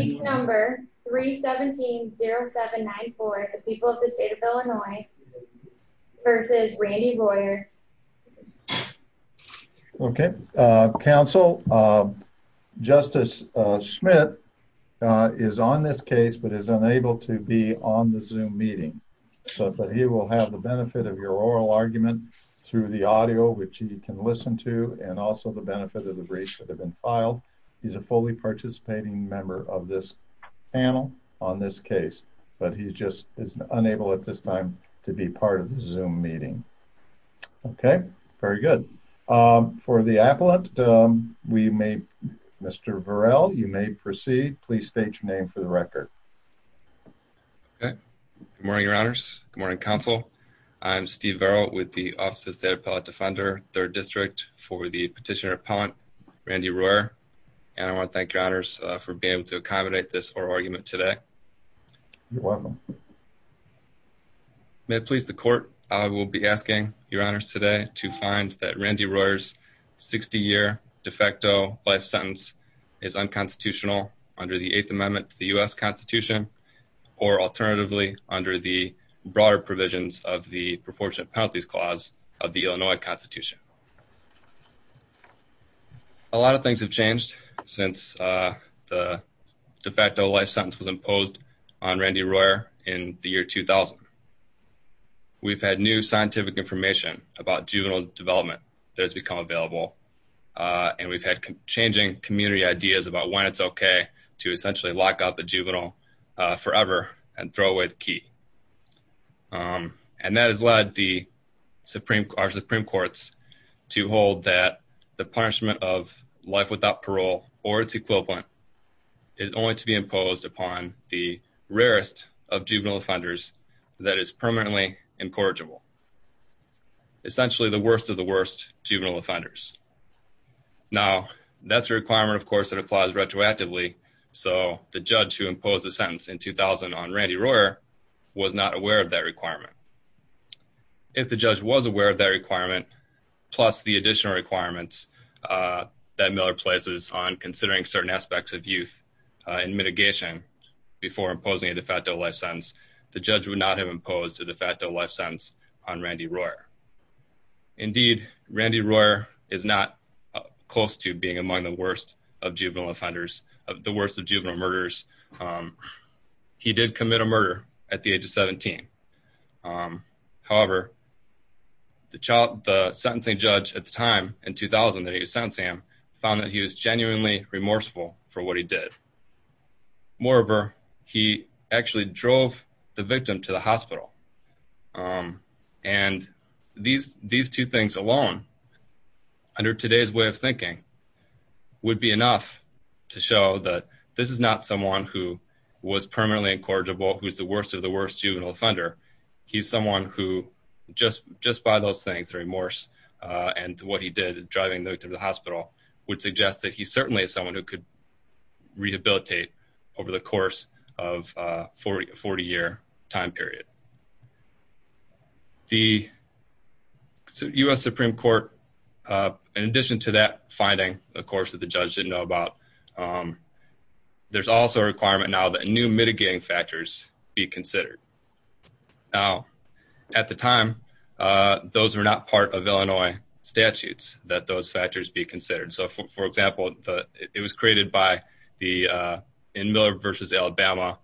number 3 17 07 94. People of the state of Illinois versus Randy Boyer. Okay, Council. Uh, Justice Schmidt is on this case but is unable to be on the zoom meeting. But he will have the benefit of your oral argument through the audio, which you can listen to and also the benefit of the briefs that he's a fully participating member of this panel on this case. But he just is unable at this time to be part of the zoom meeting. Okay, very good. Um, for the appellate, we made Mr Burrell. You may proceed. Please state your name for the record. Okay. Good morning, Your Honors. Good morning, Council. I'm Steve barrel with the offices that appellate defender third district for the petitioner Randy Royer. And I want to thank your honors for being able to accommodate this or argument today. You're welcome. May it please the court. I will be asking your honors today to find that Randy Royer's 60 year de facto life sentence is unconstitutional under the Eighth Amendment to the U. S. Constitution or alternatively, under the broader provisions of the proportionate penalties clause of the Illinois Constitution. A lot of things have changed since the de facto life sentence was imposed on Randy Royer in the year 2000. We've had new scientific information about juvenile development that has become available on. We've had changing community ideas about when it's okay to essentially lock up a juvenile forever and throw away the key. Um, and that has led the Supreme Court Supreme Courts to hold that the punishment of life without parole or its equivalent is only to be imposed upon the rarest of juvenile offenders that is permanently incorrigible, essentially the worst of the worst juvenile offenders. Now, that's a requirement, of course, that applies retroactively. So the was not aware of that requirement. If the judge was aware of that requirement, plus the additional requirements, uh, that Miller places on considering certain aspects of youth in mitigation before imposing a de facto life sentence, the judge would not have imposed a de facto life sentence on Randy Royer. Indeed, Randy Royer is not close to being among the worst of juvenile offenders of the worst of juvenile murders. Um, he did commit a murder at the age of 17. Um, however, the child, the sentencing judge at the time in 2000 that he was sent Sam found that he was genuinely remorseful for what he did. Moreover, he actually drove the victim to the hospital. Um, and these these two things alone under today's way of thinking would be enough to show that this is not someone who was permanently incorrigible, who's the worst of the worst juvenile offender. He's someone who just just by those things, remorse on what he did driving the hospital would suggest that he certainly is someone who could rehabilitate over the course of 40 40 year time period. The U. S. Supreme Court. Uh, in addition to that finding, of course, that the judge didn't know about. Um, there's also a requirement now that new mitigating factors be considered. Now, at the time, uh, those were not part of Illinois statutes that those factors be considered. So, for example, it was created by the, uh, in Miller versus Alabama.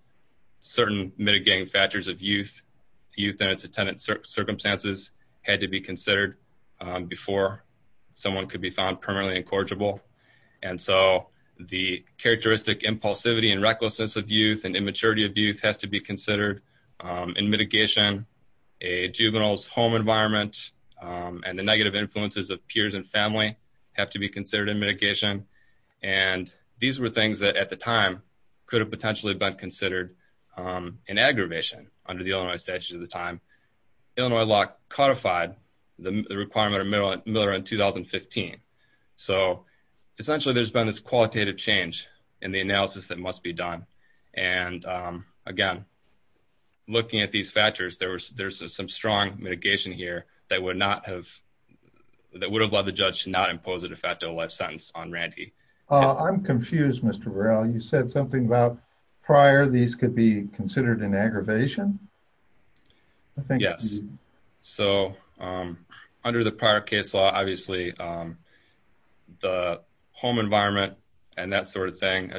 Certain mitigating factors of youth youth and its attendant circumstances had to be considered before someone could be found permanently incorrigible. And so the characteristic impulsivity and recklessness of youth and immaturity of youth has to be considered in mitigation. A juvenile's home environment on the negative influences of peers and family have to be considered in mitigation. And these were things that at the time could have potentially been considered, um, an aggravation under the Illinois statutes of the time. Illinois law codified the requirement of Miller Miller in 2015. So essentially, there's been this qualitative change in the analysis that must be done. And again, looking at these factors, there was there's some strong mitigation here that would not have that would have led the judge not imposed a de facto life sentence on Randy. I'm confused, Mr. Real. You said something about prior. These could be through the prior case law. Obviously, um, the home environment and that sort of thing.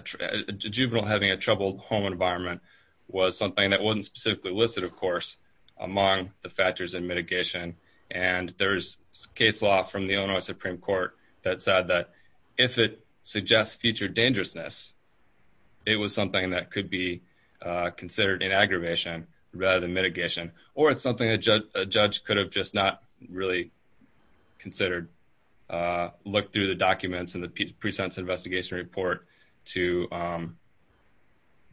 Juvenile having a troubled home environment was something that wasn't specifically listed, of course, among the factors in mitigation. And there's case law from the Illinois Supreme Court that said that if it suggests future dangerousness, it was something that could be considered in aggravation rather than mitigation. Or it's something a judge could have just really considered. Uh, look through the documents and the presents investigation report to, um,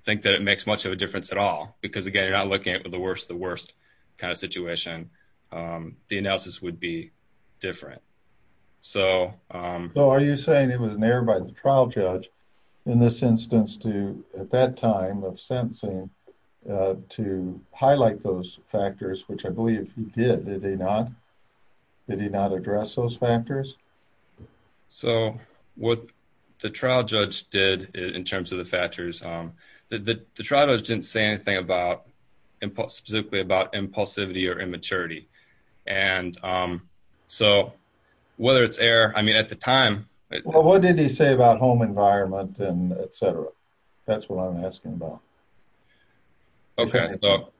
think that it makes much of a difference at all. Because again, you're not looking at the worst. The worst kind of situation. Um, the analysis would be different. So, um, so are you saying it was an error by the trial judge in this instance to at that time of sentencing to highlight those factors, which I believe you did. Did they not? Did he not address those factors? So what the trial judge did in terms of the factors that the trial judge didn't say anything about impulse, specifically about impulsivity or immaturity. And, um, so whether it's air, I mean, at the time, what did he say about home environment and etcetera? That's what I'm asking about. Okay, so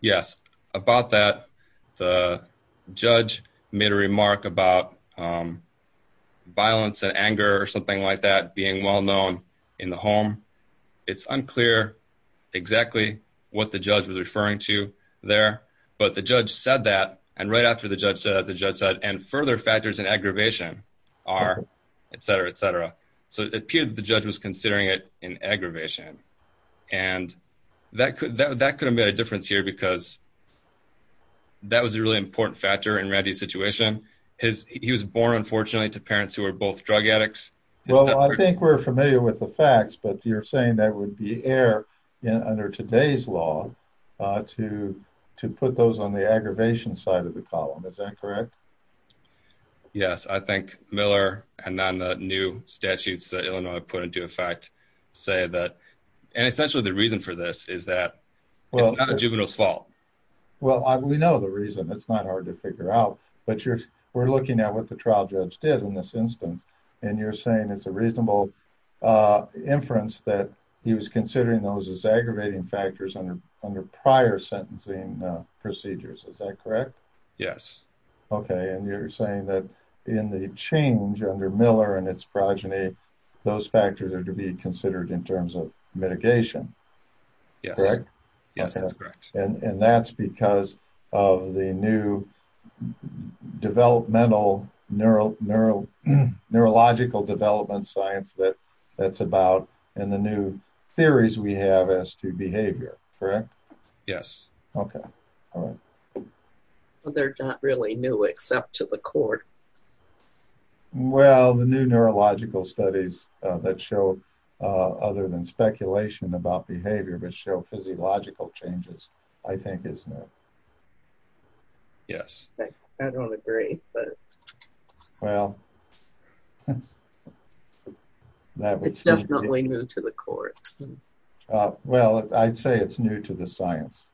yes, about that. The judge made a remark about, um, violence and anger or something like that being well known in the home. It's unclear exactly what the judge was referring to there. But the judge said that and right after the judge said the judge said and further factors in aggravation are etcetera, etcetera. So it appeared the judge was considering it in aggravation, and that could that could have made a difference here because that was a really important factor in ready situation. His he was born, unfortunately, to parents who are both drug addicts. Well, I think we're familiar with the facts, but you're saying that would be air under today's law to to put those on the aggravation side of the column. Is that correct? Yes, I think Miller and on the new statutes that Illinois put into effect say that and essentially the reason for this is that well, not a juvenile's fault. Well, we know the reason it's not hard to figure out, but you're we're looking at what the trial judge did in this instance, and you're saying it's a reasonable, uh, inference that he was considering those is aggravating factors under under prior sentencing procedures. Is that correct? Yes. Okay. And you're saying that in the change under Miller and its progeny, those factors are to be considered in terms of mitigation, correct? Yes, that's correct. And that's because of the new developmental neuro neuro neurological development science that that's about and the new theories we have as to behavior, correct? Yes. Okay. All right. They're not really new, except to the court. Well, the new neurological studies that show other than speculation about behavior, but show physiological changes, I think is no. Yes, I don't agree. Well, that was definitely new to the court. Well, I'd say it's new to the science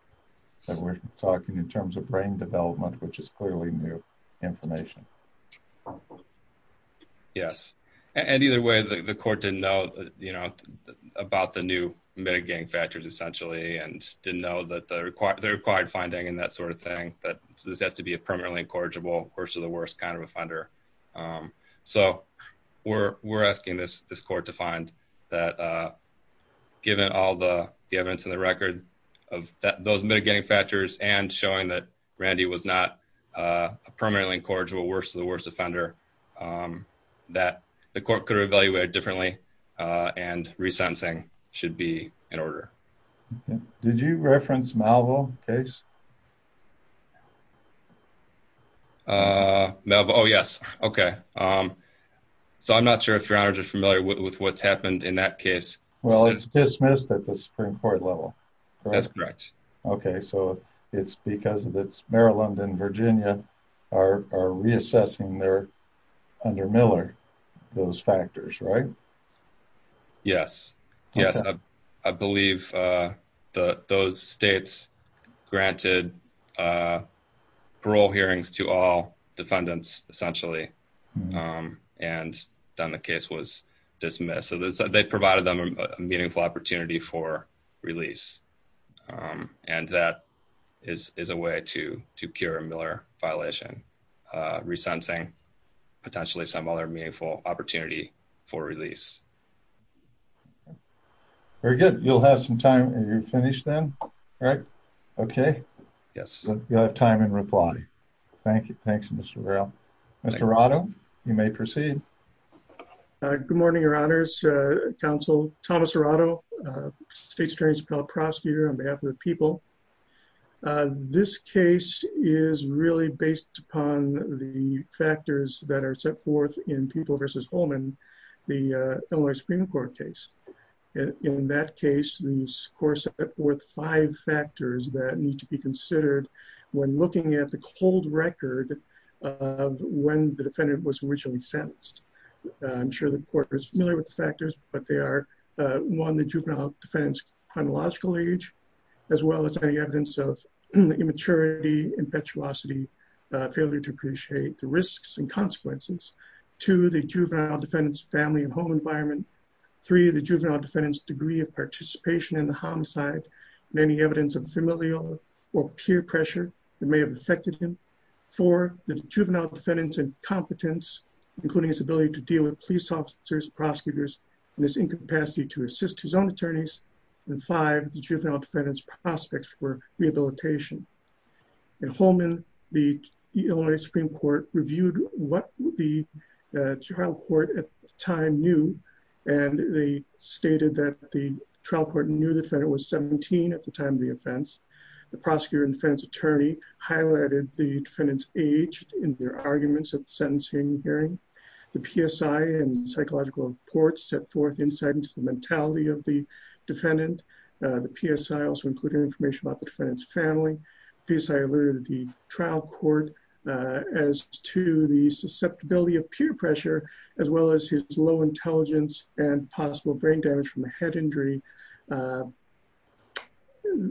that we're talking in terms of brain development, which is clearly new information. Yes. And either way, the court didn't know, you know, about the new mitigating factors, essentially, and didn't know that the required the required finding and that sort of thing. But this has to be a permanently incorrigible worst of the worst kind of offender. So we're we're asking this this court to find that, given all the evidence in the record of those mitigating factors and showing that Randy was not a permanently incorrigible worst of the worst offender, that the court could evaluate differently. And resentencing should be in order. Did you reference Malvo case? No. Oh, yes. Okay. So I'm not sure if you're familiar with what's happened in that case. Well, it's dismissed at the Supreme Court level. That's correct. Okay, so it's because of its Maryland and Virginia are reassessing their under Miller, those factors, right? Yes. Yes. I believe the those states granted parole hearings to all defendants, essentially. And then the case was dismissed. So they provided them a meaningful opportunity for release. And that is a way to to cure Miller violation, resentencing, potentially some other meaningful opportunity for release. Very good. You'll have some time. You're finished, then. All right. Okay. Yes. You have time in reply. Thank you. Thanks, Mr. Mr. Otto. You may proceed. Good morning, Your Honor's Council. Thomas Rado, state's transparent prosecutor on behalf of the people. This case is really based upon the factors that are set forth in people versus Holman, the Supreme Court case. In that case, these course, worth five factors that need to be considered when looking at the cold record of when the defendant was originally sentenced. I'm sure the court is familiar with the factors, but they are one the juvenile defense chronological age, as well as any evidence of immaturity, impetuosity, failure to appreciate the risks and consequences to the juvenile defendants, family and home environment. Three, the juvenile defendants degree of participation in the homicide, many evidence of familial or peer pressure that may have affected him for the juvenile defendants and competence, including his ability to deal with police officers, prosecutors, and this incapacity to assist his own attorneys and five, the juvenile defendants prospects for rehabilitation. And Holman, the Illinois Supreme Court reviewed what the trial court at the time knew. And they stated that the trial court knew the defendant was 17 at the time of the offense. The prosecutor and defense attorney highlighted the defendants age in their arguments at the sentencing hearing. The PSI and psychological reports set forth insight into the mentality of the defendant. The PSI also included information about the defendant's family. PSI alerted the trial court as to the susceptibility of peer pressure, as well as his low intelligence and possible brain damage from a head injury.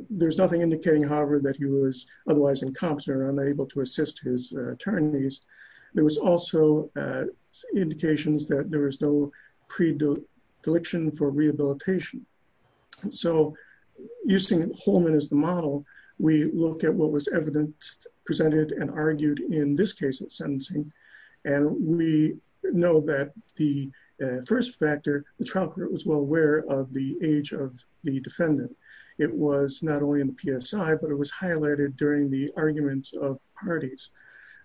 There's nothing indicating, however, that he was otherwise incompetent or unable to assist his attorneys. There was also indications that there was no pre deliction for rehabilitation. So using Holman as the model, we look at what was evidence presented and argued in this case of sentencing. And we know that the first factor, the trial court was well aware of the age of the defendant. It was not only in the PSI, but it was highlighted during the arguments of parties.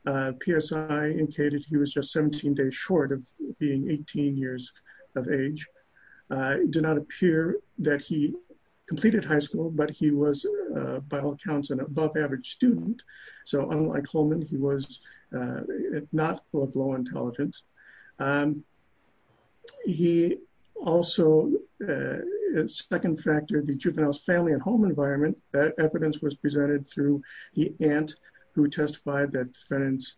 PSI indicated he was just 17 days short of being 18 years of age. It did not appear that he completed high school, but he was, by all accounts, an above average student. So unlike Holman, he was not low intelligence. He also, second factor, the juvenile's family at home environment, that evidence was presented through the aunt who testified that defendant's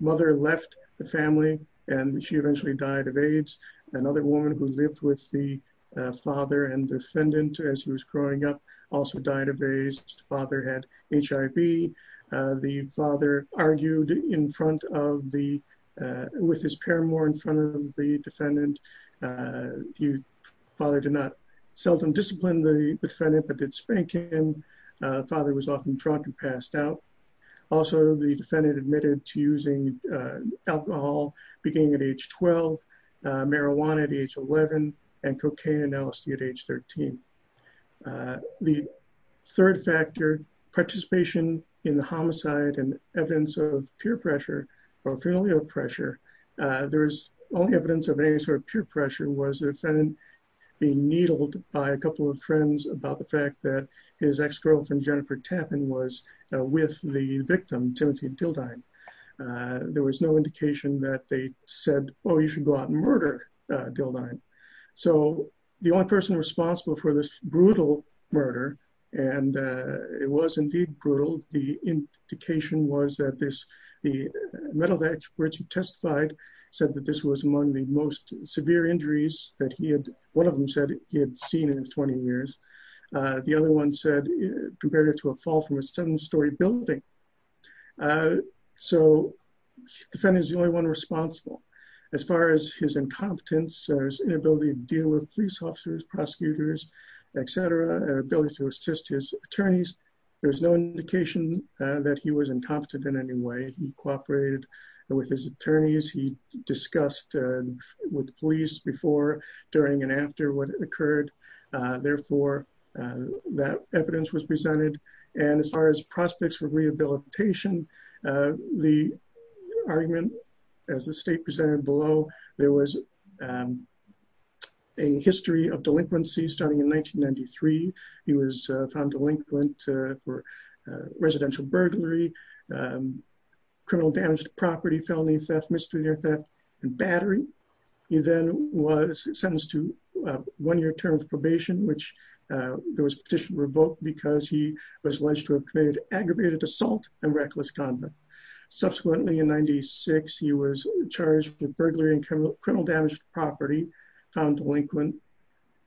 mother left the family and she eventually died of AIDS. Another woman who lived with the father and defendant as he was growing up also died of AIDS. The father had HIV. The father argued with his paramour in front of the defendant, but did spank him. The father was often drunk and passed out. Also, the defendant admitted to using alcohol, beginning at age 12, marijuana at age 11, and cocaine and LSD at age 13. The third factor, participation in the homicide and evidence of peer pressure or familial pressure. There's only evidence of any sort of peer pressure was the defendant being needled by a couple of friends about the fact that his ex-girlfriend, Jennifer Tappan, was with the victim, Timothy Dildine. There was no indication that they said, oh, you should go out and murder Dildine. So the only person responsible for this brutal murder, and it was indeed brutal, the indication was that this, the mental experts who testified said that this was among the most severe injuries that he had, one of them said he had seen in 20 years. The other one said, compared it to a fall from a seven-story building. So the defendant is the only one responsible. As far as his incompetence, his inability to deal with police officers, prosecutors, etc., ability to assist his attorneys, there's no indication that he was incompetent in any way. He cooperated with his attorneys, he discussed with the police before, during, and after what occurred. Therefore, that evidence was presented. And as far as prospects for rehabilitation, the argument, as the state presented below, there was a history of delinquency starting in 1993. He was found delinquent for residential burglary, criminal damage to property, felony theft, misdemeanor theft, and battery. He then was sentenced to one year term of probation, which there was a petition revoked because he was alleged to have committed aggravated assault and reckless conduct. Subsequently, in 96, he was charged with burglary and criminal damage to property, found delinquent,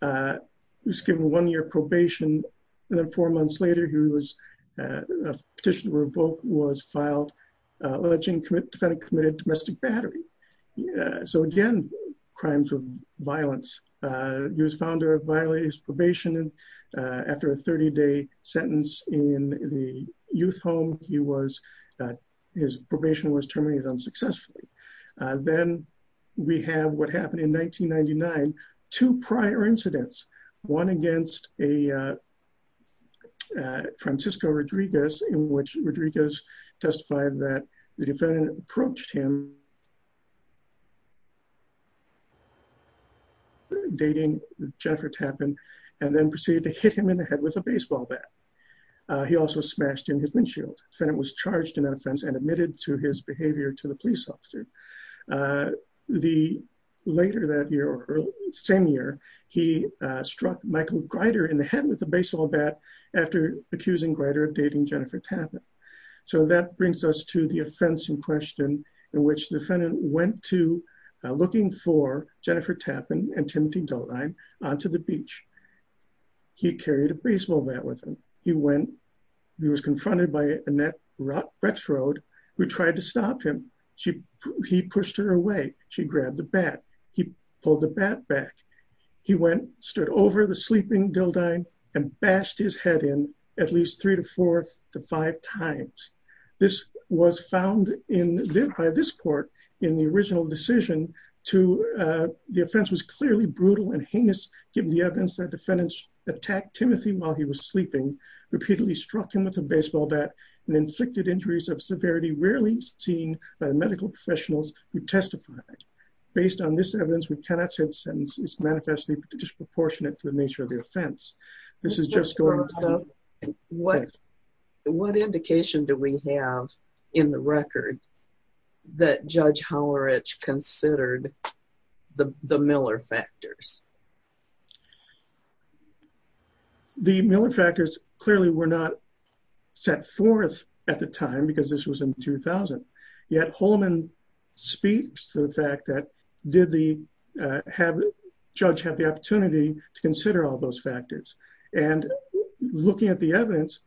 was given one year probation, and then four months later, he was petitioned, revoked, was filed, allegedly committed domestic battery. So again, crimes of violence. He was found to have violated his probation. And after a 30-day sentence in the youth home, he was, his probation was terminated unsuccessfully. Then we have what Francisco Rodriguez, in which Rodriguez testified that the defendant approached him dating Jennifer Tappan, and then proceeded to hit him in the head with a baseball bat. He also smashed him in his windshield. The defendant was charged in that offense and admitted to his behavior to the police officer. The later that with a baseball bat after accusing Greider of dating Jennifer Tappan. So that brings us to the offense in question, in which the defendant went to looking for Jennifer Tappan and Timothy Dildine onto the beach. He carried a baseball bat with him. He went, he was confronted by Annette Rexroad, who tried to stop him. She, he pushed her away. She grabbed the bat. He pulled the bat back. He went, stood over the sleeping Dildine and bashed his head in at least three to four to five times. This was found in this court in the original decision to, the offense was clearly brutal and heinous, given the evidence that defendants attacked Timothy while he was sleeping, repeatedly struck him with a baseball bat, and inflicted injuries of severity rarely seen by medical professionals who testified. Based on this evidence, we cannot say the sentence is manifestly disproportionate to the nature of the offense. This is just going up. What, what indication do we have in the record that Judge Howlerich considered the Miller factors? The Miller factors clearly were not set forth at the time because this was in 2000. Yet Holman speaks to the fact that did the judge have the opportunity to consider all those factors? And looking at the evidence,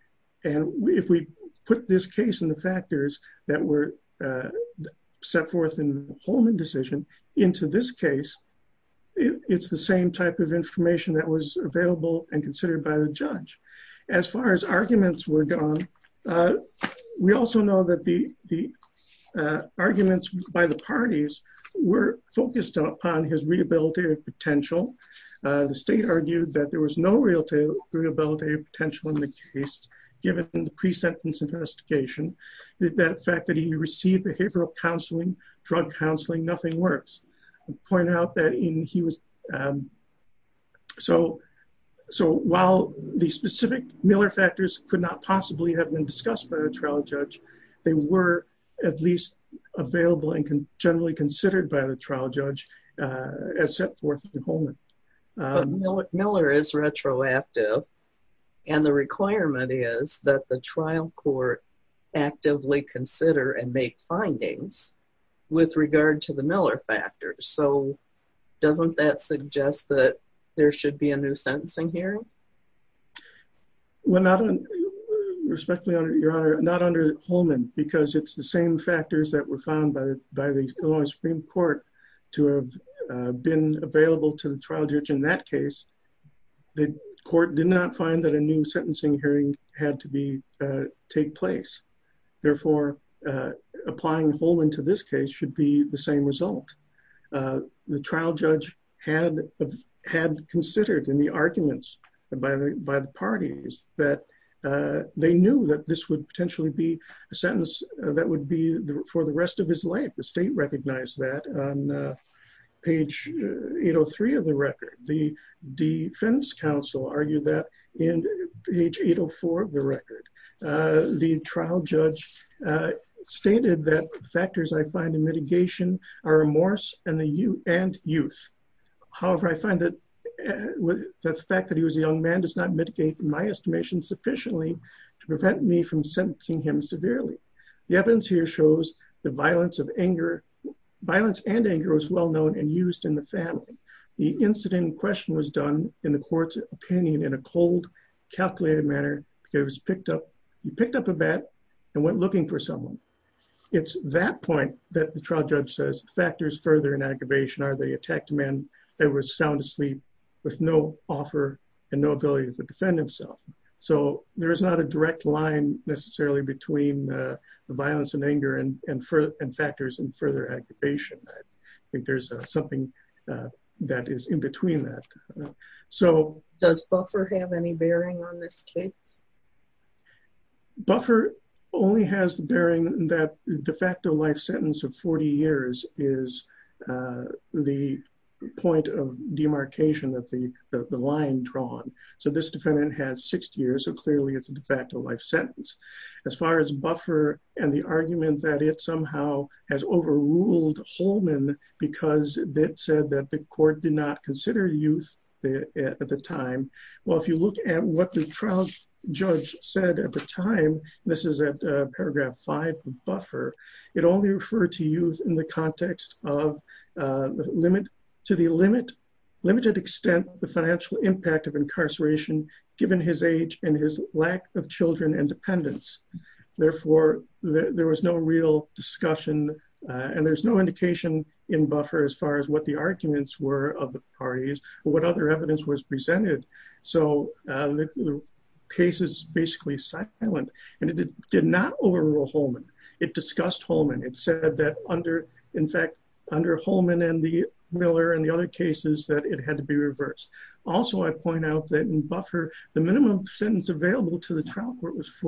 and if we put this case and the factors that were set forth in the Holman decision into this case, it's the same type of information that was available and considered by the judge. As far as arguments were gone. We also know that the, the arguments by the parties were focused upon his rehabilitative potential. The state argued that there was no real rehabilitative potential in the case, given the pre-sentence investigation, that fact that he received behavioral counseling, drug counseling, nothing worse. I'll point out that he was. So, so while the specific Miller factors could not possibly have been discussed by the trial judge, they were at least available and generally considered by the trial judge as set forth in Holman. Miller is retroactive. And the requirement is that the trial court actively consider and take findings with regard to the Miller factors. So doesn't that suggest that there should be a new sentencing hearing? Well, not on, respectfully, Your Honor, not under Holman, because it's the same factors that were found by by the Illinois Supreme Court to have been available to the trial judge in that case, the court did not find that a new sentencing hearing had to be take place. Therefore, applying Holman to this case should be the same result. The trial judge had considered in the arguments by the parties that they knew that this would potentially be a sentence that would be for the rest of his life. The state recognized that on page 803 of the record. The defense counsel argued that in page 804 of the trial judge stated that factors I find in mitigation are remorse and youth. However, I find that the fact that he was a young man does not mitigate my estimation sufficiently to prevent me from sentencing him severely. The evidence here shows the violence of anger, violence and anger was well known and used in the family. The incident question was done in the court's opinion in a cold, calculated manner. He picked up a bat and went looking for someone. It's that point that the trial judge says factors further in aggravation are they attacked a man that was sound asleep with no offer and no ability to defend himself. So there is not a direct line necessarily between the violence and anger and factors and further aggravation. I think there's something that is in between that. So does Buffer have any bearing on this case? Buffer only has the bearing that de facto life sentence of 40 years is the point of demarcation of the line drawn. So this defendant has six years so clearly it's a de facto life sentence. I'm not sure that the court ruled Holman because it said that the court did not consider youth at the time. Well, if you look at what the trial judge said at the time, this is at paragraph five from Buffer, it only referred to youth in the context of limited extent the financial impact of no indication in Buffer as far as what the arguments were of the parties, what other evidence was presented. So the case is basically silent. And it did not overrule Holman. It discussed Holman, it said that under, in fact, under Holman and the Miller and the other cases that it had to be reversed. Also, I point out that in Buffer, the minimum sentence available to the trial court was a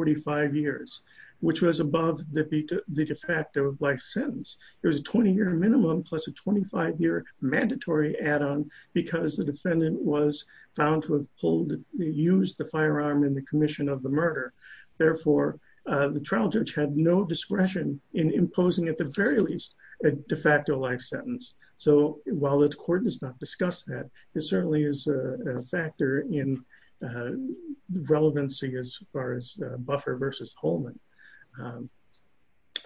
20-year minimum plus a 25-year mandatory add-on because the defendant was found to have pulled the, used the firearm in the commission of the murder. Therefore, the trial judge had no discretion in imposing at the very least, a de facto life sentence. So while the court does not discuss that, it certainly is a factor in relevancy as far as Buffer versus Holman.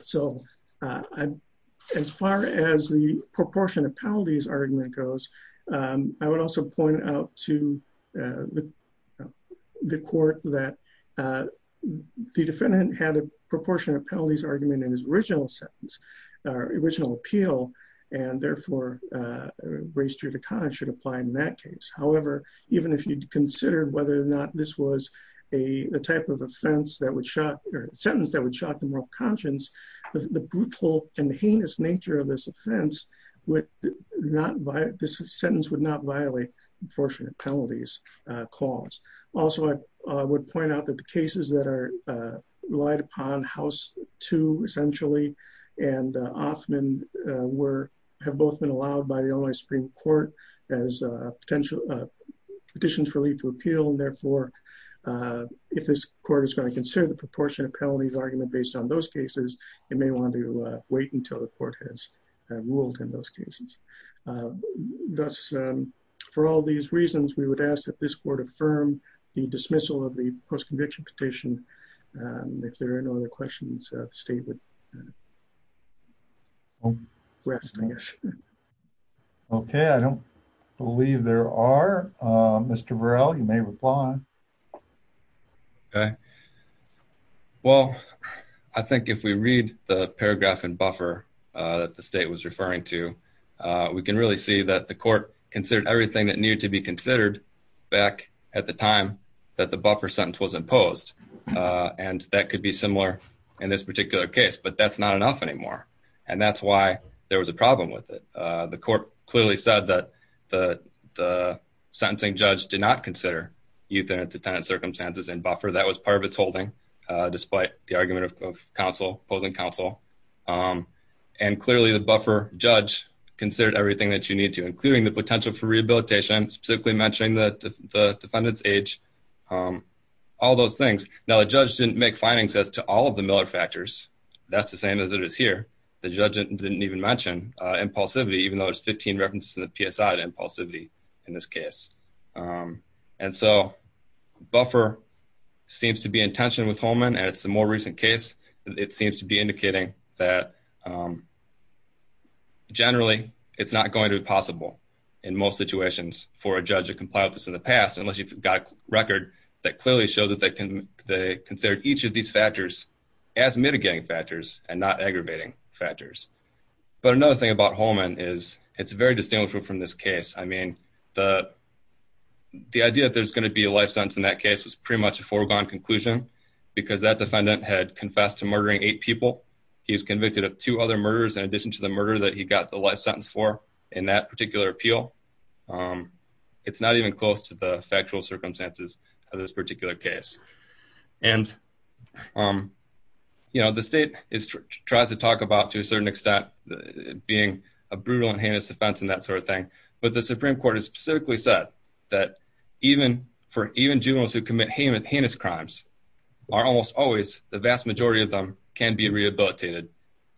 So, as far as the proportion of penalties argument goes, I would also point out to the court that the defendant had a proportion of penalties argument in his original sentence, or original appeal, and therefore, raised to the conscience should apply in that case. However, even if you'd considered whether or not this was a type of offense that would shock or sentence that would shock the moral nature of this offense, this sentence would not violate the proportion of penalties clause. Also, I would point out that the cases that are relied upon, House 2, essentially, and Offman, have both been allowed by the Illinois Supreme Court as petitions for leave to appeal. And therefore, if this court is going to consider the proportion of penalties argument based on those cases, it may want to wait until the court has ruled in those cases. Thus, for all these reasons, we would ask that this court affirm the dismissal of the post-conviction petition. If there are no other questions, the state would rest, I guess. Okay, I don't believe there are. Mr. Virrell, you may reply. Okay. Well, I think if we read the paragraph in buffer that the state was referring to, we can really see that the court considered everything that needed to be considered back at the time that the buffer sentence was imposed. And that could be similar in this particular case, but that's not enough anymore. And that's why there was a problem with the court clearly said that the sentencing judge did not consider euthanasia tenant circumstances and buffer that was part of its holding, despite the argument of counsel opposing counsel. And clearly, the buffer judge considered everything that you need to including the potential for rehabilitation, specifically mentioning that the defendant's age, all those things. Now, the judge didn't make findings as to all of the Miller factors. That's the same as it is here. The judge didn't even mention impulsivity, even though there's 15 references to the PSI impulsivity in this case. And so buffer seems to be in tension with Holman. And it's the more recent case, it seems to be indicating that generally, it's not going to be possible in most situations for a judge to comply with this in the past unless you've got a record that clearly shows that they can they consider each of these factors as mitigating factors and not aggravating factors. But another thing about Holman is it's very distinguishable from this case. I mean, the the idea that there's going to be a life sentence in that case was pretty much a foregone conclusion, because that defendant had confessed to murdering eight people. He was convicted of two other murders in addition to the murder that he got the life sentence for in that particular appeal. It's not even close to the factual circumstances of this particular case. And you know, the state is tries to talk about to a certain extent, being a brutal and heinous offense and that sort of thing. But the Supreme Court has specifically said that even for even juveniles who commit heinous heinous crimes, are almost always the vast majority of them can be rehabilitated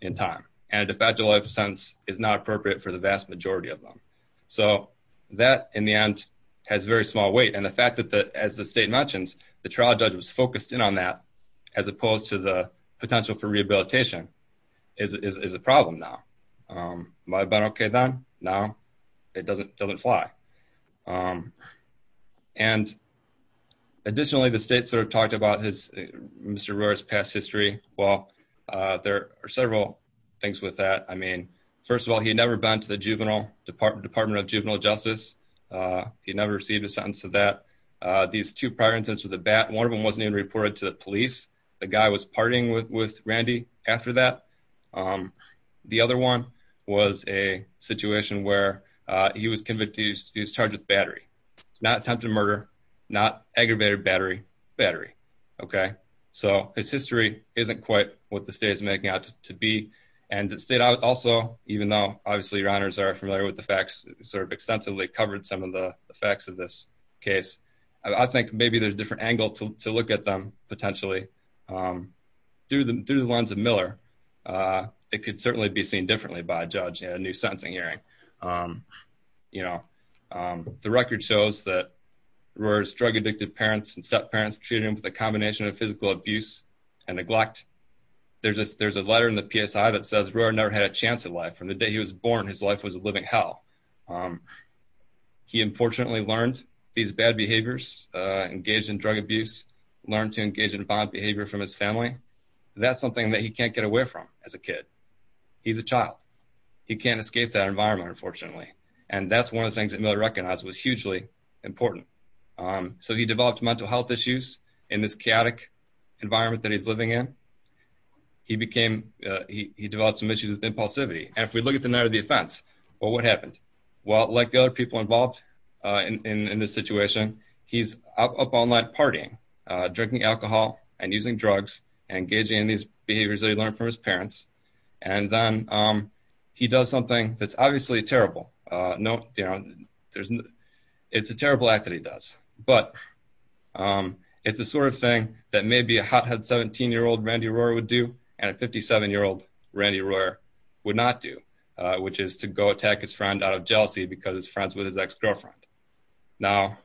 in time. And a factual life sentence is not appropriate for the vast majority of them. So that in the end, has very small weight. And the fact that that as the state mentions, the trial judge was focused in on that, as opposed to the potential for rehabilitation is a problem now. But okay, then now, it doesn't doesn't fly. And additionally, the state sort of talked about his Mr. Roars past history. Well, there are several things with that. I mean, first of all, he never been to the juvenile department Department of juvenile justice. He never received a sentence of that. These two prior incidents with a bat, one of them wasn't even reported to the state. The other one was a situation where he was convicted, he was charged with battery, not attempted murder, not aggravated battery, battery. Okay, so his history isn't quite what the state is making out to be. And the state also, even though obviously, your honors are familiar with the facts sort of extensively covered some of the facts of this case, I think maybe there's different angle to look at them It could certainly be seen differently by a judge and a new sentencing hearing. You know, the record shows that we're drug addicted parents and step parents treated with a combination of physical abuse and neglect. There's a there's a letter in the PSI that says we're never had a chance of life from the day he was born. His life was a living hell. He unfortunately learned these bad behaviors, engaged in drug abuse, learned to as a kid. He's a child. He can't escape that environment, unfortunately. And that's one of the things that Miller recognized was hugely important. So he developed mental health issues in this chaotic environment that he's living in. He became he developed some issues with impulsivity. And if we look at the night of the offense, or what happened? Well, like other people involved in this situation, he's up all night partying, drinking alcohol, and And then he does something that's obviously terrible. No, there's no, it's a terrible act that he does. But it's the sort of thing that maybe a hothead 17 year old Randy Royer would do, and a 57 year old Randy Royer would not do, which is to go attack his friend out of jealousy because his friends with his ex girlfriend. Now,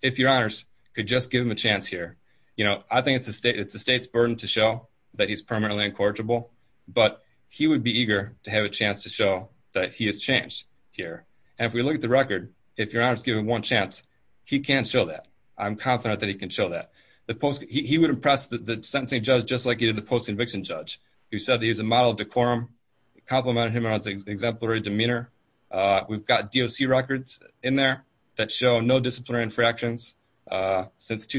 if your honors could just give him a chance here. You know, I think it's a state it's a state's burden to show that he's permanently incorrigible. But he would be eager to have a chance to show that he has changed here. And if we look at the record, if your honors give him one chance, he can show that I'm confident that he can show that the post he would impress the sentencing judge just like he did the post conviction judge who said that he's a model decorum complimented him on his exemplary demeanor. We've got DLC records in there that show no disciplinary fractions. Mr.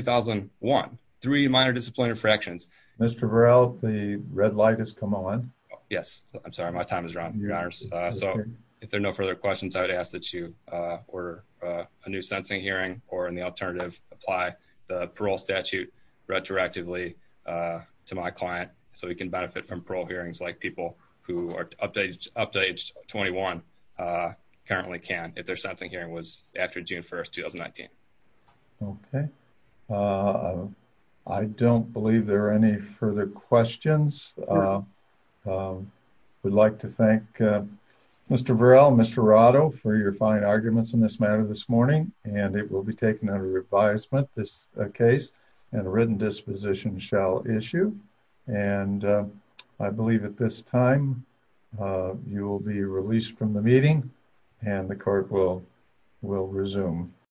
Burrell, the red light has come on. Yes, I'm sorry. My time is wrong. Your honors. So if there are no further questions, I would ask that you, uh, order, uh, a new sensing hearing or in the alternative apply the parole statute retroactively, uh, to my client. So we can benefit from parole hearings like people who are updated up to age 21, uh, currently can, if there's something hearing was after June 1st, 2019. Okay. Uh, I don't believe there are any further questions. Uh, we'd like to thank Mr. Burrell, Mr. Rado for your fine arguments in this matter this morning, and it will be taken under advisement. This case and written disposition shall issue. And I believe at this time, uh, you will be released from the meeting and the court will will resume.